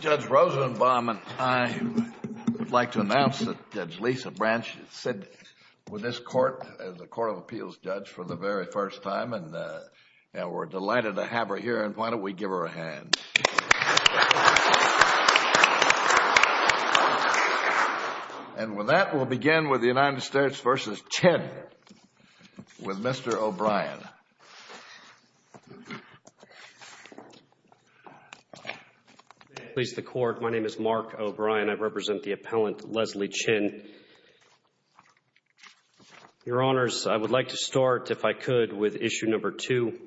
Judge Rosenbaum and I would like to announce that Judge Lisa Branch is sitting with this court as a court of appeals judge for the very first time and we're delighted to have her here and why don't we give her a hand. And with that we'll begin with the United States v. Chin with Mr. O'Brien. My name is Mark O'Brien, I represent the appellant Leslie Chin. Your Honors, I would like to start if I could with issue number two,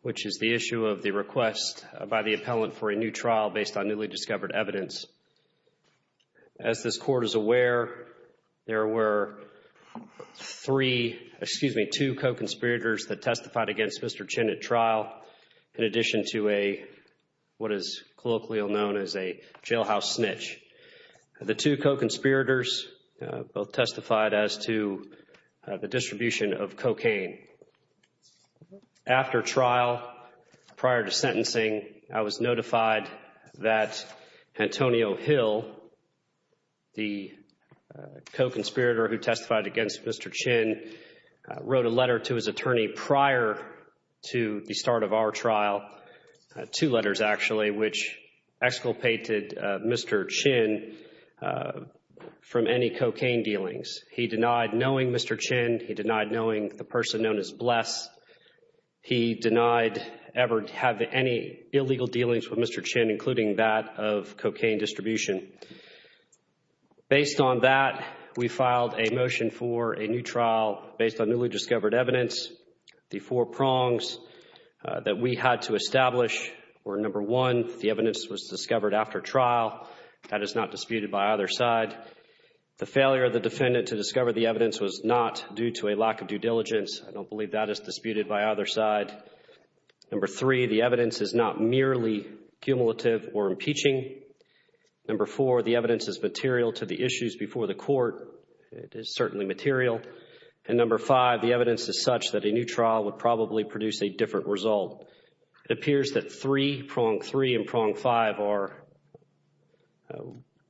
which is the issue of the request by the appellant for a new trial based on newly discovered evidence. As this court is aware, there were three, excuse me, two co-conspirators that testified against Mr. Chin at trial in addition to what is colloquially known as a jailhouse snitch. The two co-conspirators both testified as to the distribution of cocaine. After trial, prior to sentencing, I was notified that Antonio Hill, the co-conspirator who testified against Mr. Chin, wrote a letter to his attorney prior to the start of our trial, two letters actually, which exculpated Mr. Chin from any cocaine dealings. He denied knowing Mr. Chin, he denied knowing the person known as Bless, he denied ever having any illegal dealings with Mr. Chin, including that of cocaine distribution. Based on that, we filed a motion for a new trial based on newly discovered evidence. The four prongs that we had to establish were number one, the evidence was discovered after trial, that is not disputed by either side. The failure of the defendant to discover the evidence was not due to a lack of due diligence. I don't believe that is disputed by either side. Number three, the evidence is not merely cumulative or impeaching. Number four, the evidence is material to the issues before the court. It is certainly material. And number five, the evidence is such that a new trial would probably produce a different result. It appears that three, prong three and prong five, are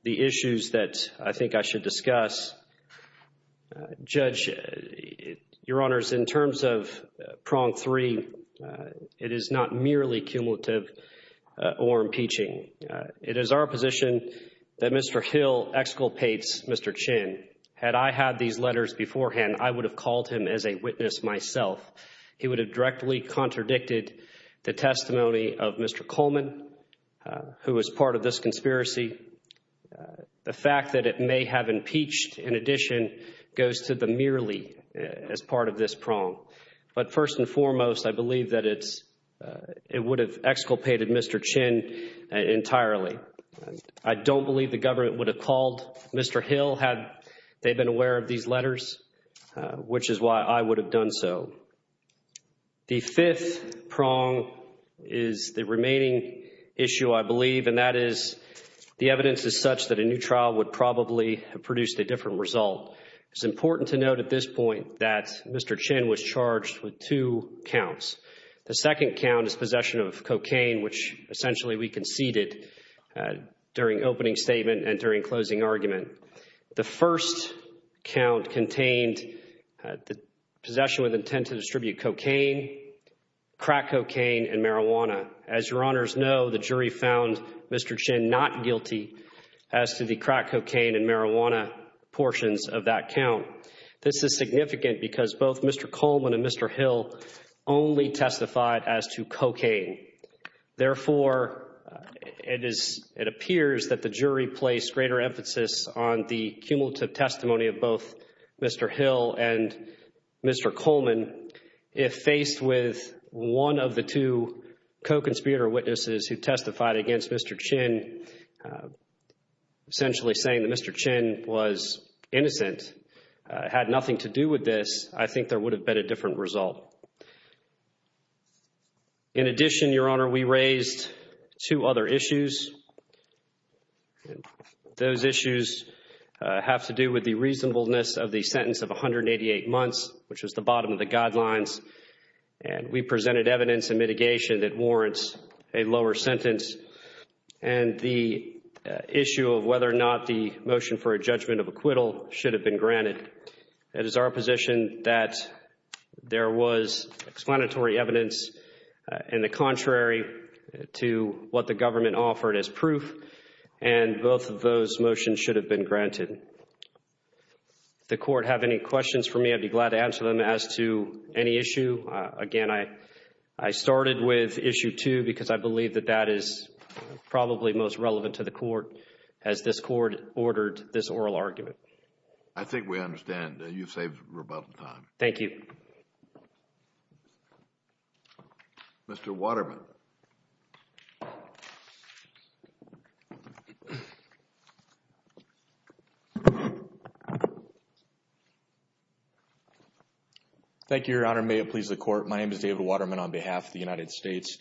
the issues that I think I should discuss. Judge, Your Honors, in terms of prong three, it is not merely cumulative or impeaching. It is our position that Mr. Hill exculpates Mr. Chin. Had I had these letters beforehand, I would have called him as a witness myself. He would have directly contradicted the testimony of Mr. Coleman, who was part of this conspiracy. The fact that it may have impeached, in addition, goes to the merely as part of this prong. But first and foremost, I believe that it would have exculpated Mr. Chin entirely. I don't believe the government would have called Mr. Hill had they been aware of these also. The fifth prong is the remaining issue, I believe, and that is the evidence is such that a new trial would probably have produced a different result. It is important to note at this point that Mr. Chin was charged with two counts. The second count is possession of cocaine, which essentially we conceded during opening statement and during closing argument. The first count contained the possession with intent to distribute cocaine, crack cocaine, and marijuana. As your honors know, the jury found Mr. Chin not guilty as to the crack cocaine and marijuana portions of that count. This is significant because both Mr. Coleman and Mr. Hill only testified as to cocaine. Therefore, it appears that the jury placed greater emphasis on the cumulative testimony of both Mr. Hill and Mr. Coleman. If faced with one of the two co-conspirator witnesses who testified against Mr. Chin, essentially saying that Mr. Chin was innocent, had nothing to do with this, I think there would have been a different result. In addition, your honor, we raised two other issues. Those issues have to do with the reasonableness of the sentence of 188 months, which was the bottom of the guidelines, and we presented evidence and mitigation that warrants a lower sentence and the issue of whether or not the motion for a judgment of acquittal should have been granted. It is our position that there was explanatory evidence in the contrary to what the government offered as proof, and both of those motions should have been granted. The court have any questions for me, I'd be glad to answer them as to any issue. Again, I started with issue two because I believe that that is probably most relevant to the court as this court ordered this oral argument. I think we understand that you've saved a rebuttal time. Thank you. Mr. Waterman. Thank you, your honor. May it please the court. My name is David Waterman on behalf of the United States.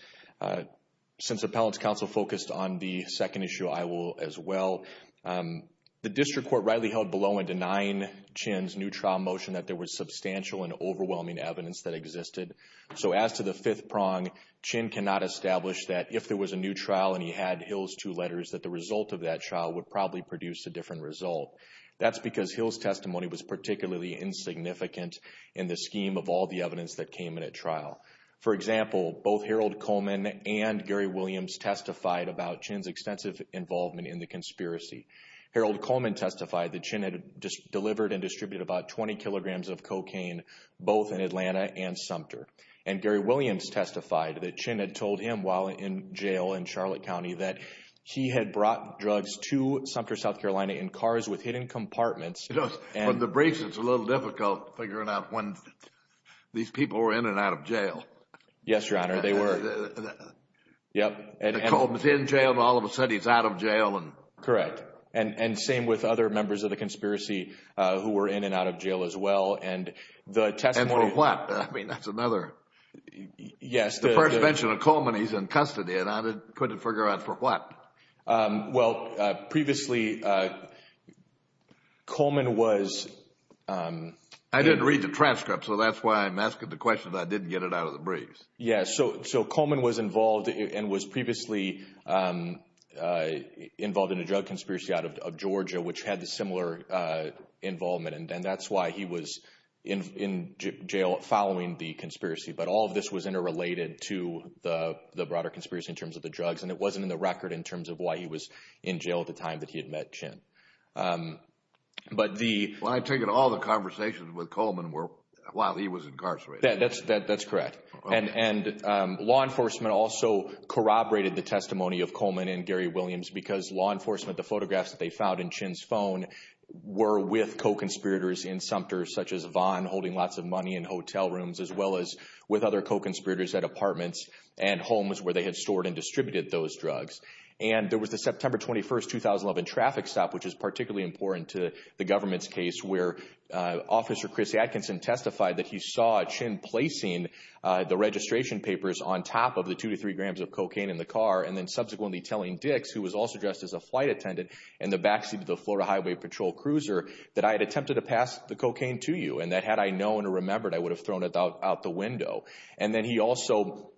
Since Appellant's counsel focused on the second issue, I will as well. The district court rightly held below in denying Chin's new trial motion that there was substantial and overwhelming evidence that existed. So as to the fifth prong, Chin cannot establish that if there was a new trial and he had Hill's two letters that the result of that trial would probably produce a different result. That's because Hill's testimony was particularly insignificant in the scheme of all the evidence that came in at trial. There was no significant involvement in the conspiracy. Harold Coleman testified that Chin had just delivered and distributed about 20 kilograms of cocaine, both in Atlanta and Sumter. And Gary Williams testified that Chin had told him while in jail in Charlotte County that he had brought drugs to Sumter, South Carolina in cars with hidden compartments. You know, from the briefs, it's a little difficult figuring out when these people were in and out of jail. Yes, your honor. They were. Yep. Coleman was in jail and all of a sudden he's out of jail. Correct. And same with other members of the conspiracy who were in and out of jail as well. And the testimony. And for what? I mean, that's another. Yes. The first mention of Coleman, he's in custody and I couldn't figure out for what. Well, previously, Coleman was. I didn't read the transcript, so that's why I'm asking the question that I didn't get it out of the briefs. Yes. So Coleman was involved and was previously involved in a drug conspiracy out of Georgia, which had the similar involvement. And that's why he was in jail following the conspiracy. But all of this was interrelated to the broader conspiracy in terms of the drugs. And it wasn't in the record in terms of why he was in jail at the time that he had met Chin. But the. Well, I take it all the conversations with Coleman were while he was incarcerated. That's correct. And law enforcement also corroborated the testimony of Coleman and Gary Williams because law enforcement, the photographs that they found in Chin's phone were with co-conspirators in Sumter, such as Vaughn holding lots of money in hotel rooms, as well as with other co-conspirators at apartments and homes where they had stored and distributed those drugs. And there was the September 21st, 2011 traffic stop, which is particularly important to the the registration papers on top of the two to three grams of cocaine in the car, and then subsequently telling Dix, who was also dressed as a flight attendant in the backseat of the Florida Highway Patrol cruiser, that I had attempted to pass the cocaine to you and that had I known or remembered, I would have thrown it out the window. And then he also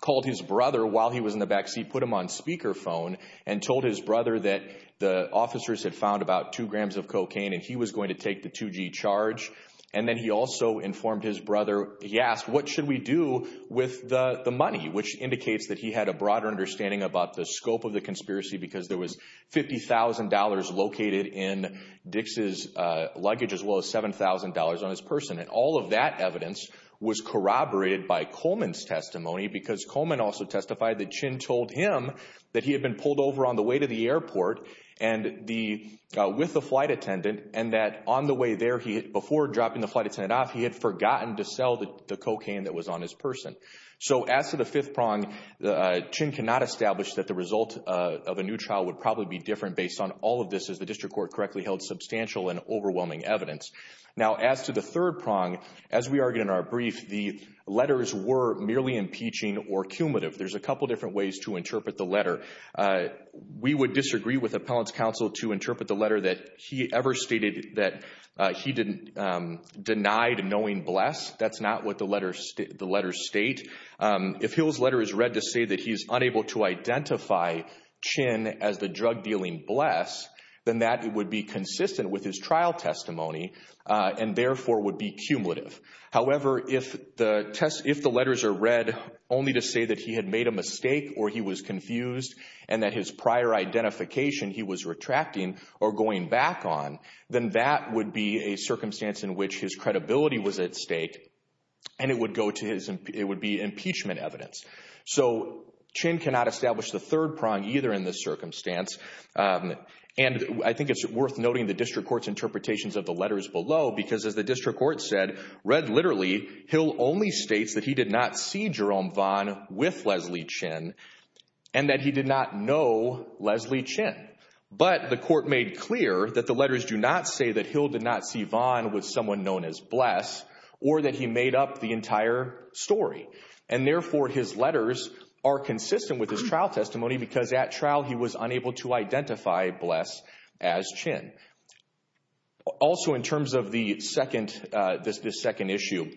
called his brother while he was in the backseat, put him on speakerphone and told his brother that the officers had found about two grams of cocaine and he was going to take the 2G charge. And then he also informed his brother, he asked, what should we do with the money, which indicates that he had a broader understanding about the scope of the conspiracy because there was $50,000 located in Dix's luggage as well as $7,000 on his person. And all of that evidence was corroborated by Coleman's testimony because Coleman also testified that Chin told him that he had been pulled over on the way to the airport with the flight attendant and that on the way there, before dropping the flight attendant off, he had forgotten to sell the cocaine that was on his person. So as to the fifth prong, Chin cannot establish that the result of a new trial would probably be different based on all of this, as the district court correctly held substantial and overwhelming evidence. Now as to the third prong, as we argued in our brief, the letters were merely impeaching There's a couple different ways to interpret the letter. We would disagree with appellant's counsel to interpret the letter that he ever stated that he denied knowing Bless. That's not what the letters state. If Hill's letter is read to say that he's unable to identify Chin as the drug dealing Bless, then that would be consistent with his trial testimony and therefore would be cumulative. However, if the letters are read only to say that he had made a mistake or he was confused and that his prior identification he was retracting or going back on, then that would be a circumstance in which his credibility was at stake and it would be impeachment evidence. So Chin cannot establish the third prong either in this circumstance and I think it's worth noting the district court's interpretations of the letters below because as the district court said, read literally, Hill only states that he did not see Jerome Vaughn with Leslie Chin and that he did not know Leslie Chin. But the court made clear that the letters do not say that Hill did not see Vaughn with someone known as Bless or that he made up the entire story. And therefore his letters are consistent with his trial testimony because at trial he was unable to identify Bless as Chin. Also in terms of this second issue,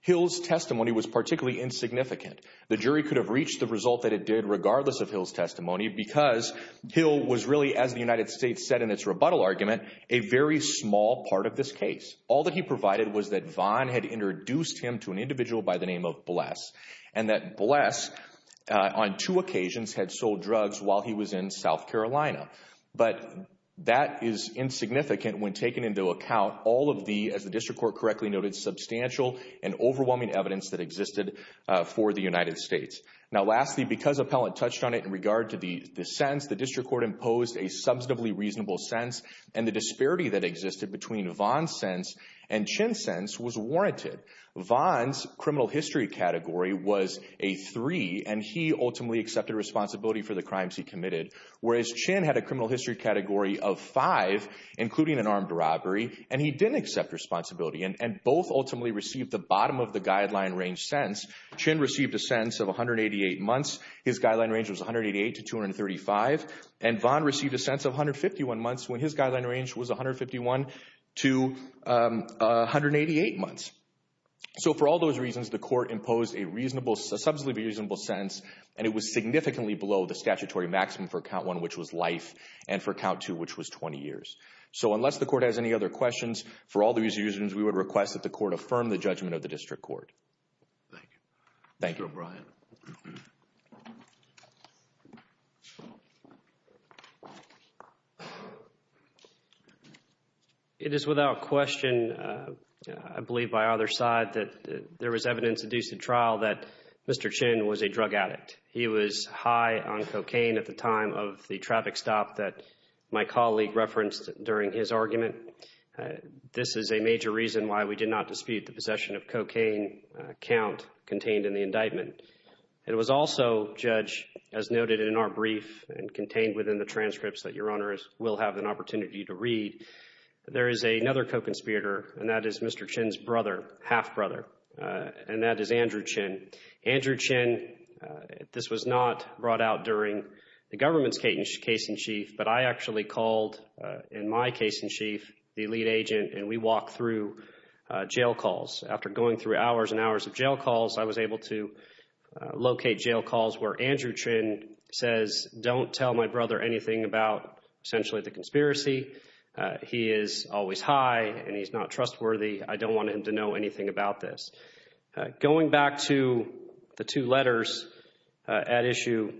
Hill's testimony was particularly insignificant. The jury could have reached the result that it did regardless of Hill's testimony because Hill was really, as the United States said in its rebuttal argument, a very small part of this case. All that he provided was that Vaughn had introduced him to an individual by the name of Bless and that Bless on two occasions had sold drugs while he was in South Carolina. But that is insignificant when taken into account all of the, as the district court correctly noted, substantial and overwhelming evidence that existed for the United States. Now lastly, because Appellant touched on it in regard to the sentence, the district court imposed a substantively reasonable sentence and the disparity that existed between Vaughn's sentence and Chin's sentence was warranted. Vaughn's criminal history category was a three and he ultimately accepted responsibility for the crimes he committed, whereas Chin had a criminal history category of five, including an armed robbery, and he didn't accept responsibility. And both ultimately received the bottom of the guideline range sentence. Chin received a sentence of 188 months. His guideline range was 188 to 235. And Vaughn received a sentence of 151 months when his guideline range was 151 to 188 months. So for all those reasons, the court imposed a reasonable, a substantively reasonable sentence and it was significantly below the statutory maximum for Count 1, which was life, and for Count 2, which was 20 years. So unless the court has any other questions, for all those reasons, we would request that the court affirm the judgment of the district court. Thank you. Thank you. Mr. O'Brien. It is without question, I believe by either side, that there was evidence in this trial that Mr. Chin was a drug addict. He was high on cocaine at the time of the traffic stop that my colleague referenced during his argument. This is a major reason why we did not dispute the possession of cocaine count contained in the indictment. It was also, Judge, as noted in our brief and contained within the transcripts that Your Honors will have an opportunity to read, there is another co-conspirator, and that is Mr. Chin's brother, half-brother, and that is Andrew Chin. Andrew Chin, this was not brought out during the government's case in chief, but I actually called, in my case in chief, the lead agent, and we walked through jail calls. After going through hours and hours of jail calls, I was able to locate jail calls where Andrew Chin says, don't tell my brother anything about, essentially, the conspiracy. He is always high, and he's not trustworthy. I don't want him to know anything about this. Going back to the two letters at issue,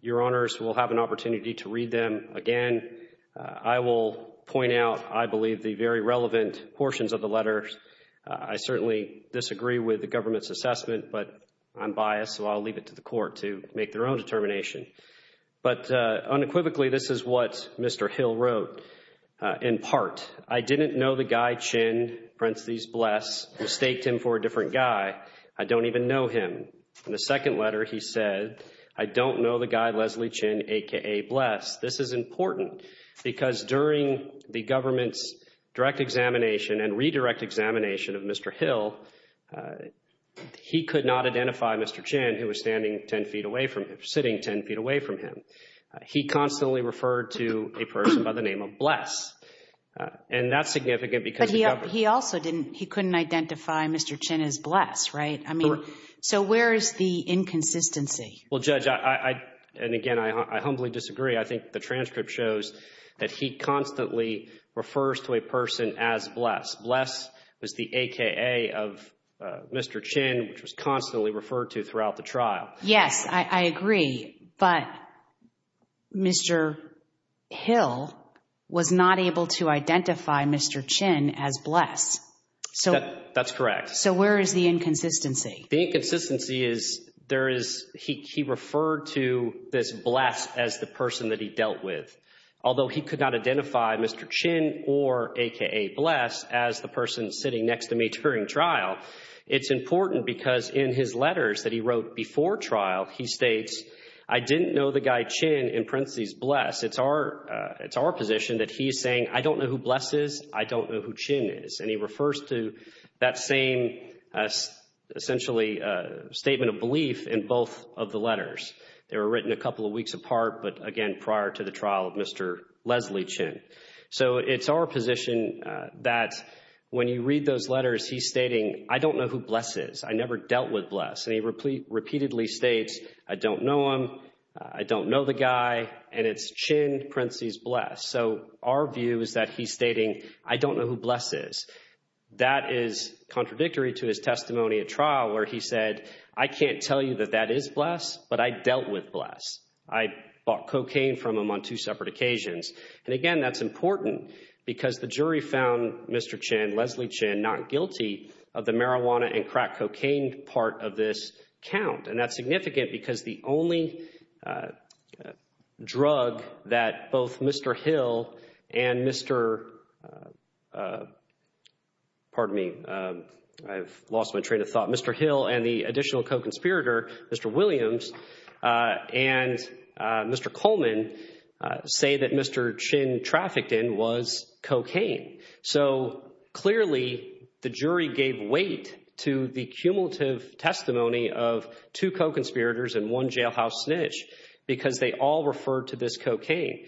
Your Honors will have an opportunity to read them again. I will point out, I believe, the very relevant portions of the letters. I certainly disagree with the government's assessment, but I'm biased, so I'll leave it to the court to make their own determination. But unequivocally, this is what Mr. Hill wrote, in part. I didn't know the guy Chin, Prensley's Bless, mistaked him for a different guy. I don't even know him. In the second letter, he said, I don't know the guy Leslie Chin, aka Bless. This is important, because during the government's direct examination and redirect examination of Mr. Hill, he could not identify Mr. Chin, who was standing 10 feet away from him, sitting 10 feet away from him. He constantly referred to a person by the name of Bless, and that's significant because of the government. But he also didn't, he couldn't identify Mr. Chin as Bless, right? I mean, so where is the inconsistency? Well, Judge, I, and again, I humbly disagree. I think the transcript shows that he constantly refers to a person as Bless. Bless was the aka of Mr. Chin, which was constantly referred to throughout the trial. Yes, I agree. But Mr. Hill was not able to identify Mr. Chin as Bless. So that's correct. So where is the inconsistency? The inconsistency is there is, he referred to this Bless as the person that he dealt with. Although he could not identify Mr. Chin or aka Bless as the person sitting next to me during trial, it's important because in his letters that he wrote before trial, he states, I didn't know the guy Chin in parentheses Bless. It's our, it's our position that he's saying, I don't know who Bless is, I don't know who Chin is. And he refers to that same essentially statement of belief in both of the letters. They were written a couple of weeks apart, but again, prior to the trial of Mr. Leslie Chin. So it's our position that when you read those letters, he's stating, I don't know who Bless is. I never dealt with Bless. And he repeatedly states, I don't know him. I don't know the guy. And it's Chin parentheses Bless. So our view is that he's stating, I don't know who Bless is. That is contradictory to his testimony at trial where he said, I can't tell you that that is Bless, but I dealt with Bless. I bought cocaine from him on two separate occasions. And again, that's important because the jury found Mr. Chin, Leslie Chin, not guilty of the marijuana and crack cocaine part of this count. And that's significant because the only drug that both Mr. Hill and Mr., pardon me, I've lost my train of thought, Mr. Hill and the additional co-conspirator, Mr. Williams, and Mr. Coleman say that Mr. Chin trafficked in was cocaine. So clearly the jury gave weight to the cumulative testimony of two co-conspirators and one jailhouse snitch because they all referred to this cocaine.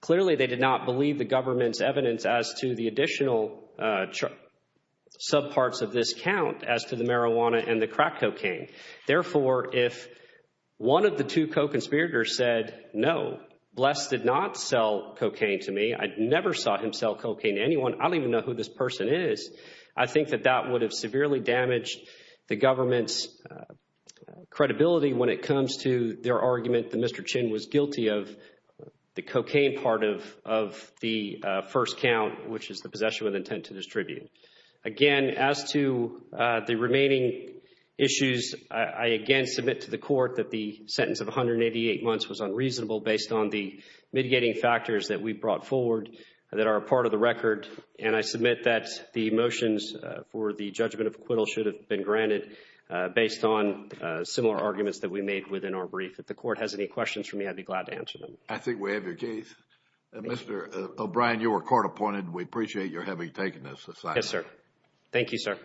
Clearly they did not believe the government's evidence as to the additional subparts of this count as to the marijuana and the crack cocaine. Therefore, if one of the two co-conspirators said, no, Bless did not sell cocaine to me, I never saw him sell cocaine to anyone, I don't even know who this person is, I think that that would have severely damaged the government's credibility when it comes to their argument that Mr. Chin was guilty of the cocaine part of the first count, which is the possession with intent to distribute. Again, as to the remaining issues, I again submit to the court that the sentence of 188 months was unreasonable based on the mitigating factors that we brought forward that are part of the record and I submit that the motions for the judgment of acquittal should have been granted based on similar arguments that we made within our brief. If the court has any questions for me, I'd be glad to answer them. I think we have your case. Mr. O'Brien, you were court appointed. We appreciate your having taken this aside. Yes, sir. Thank you, sir.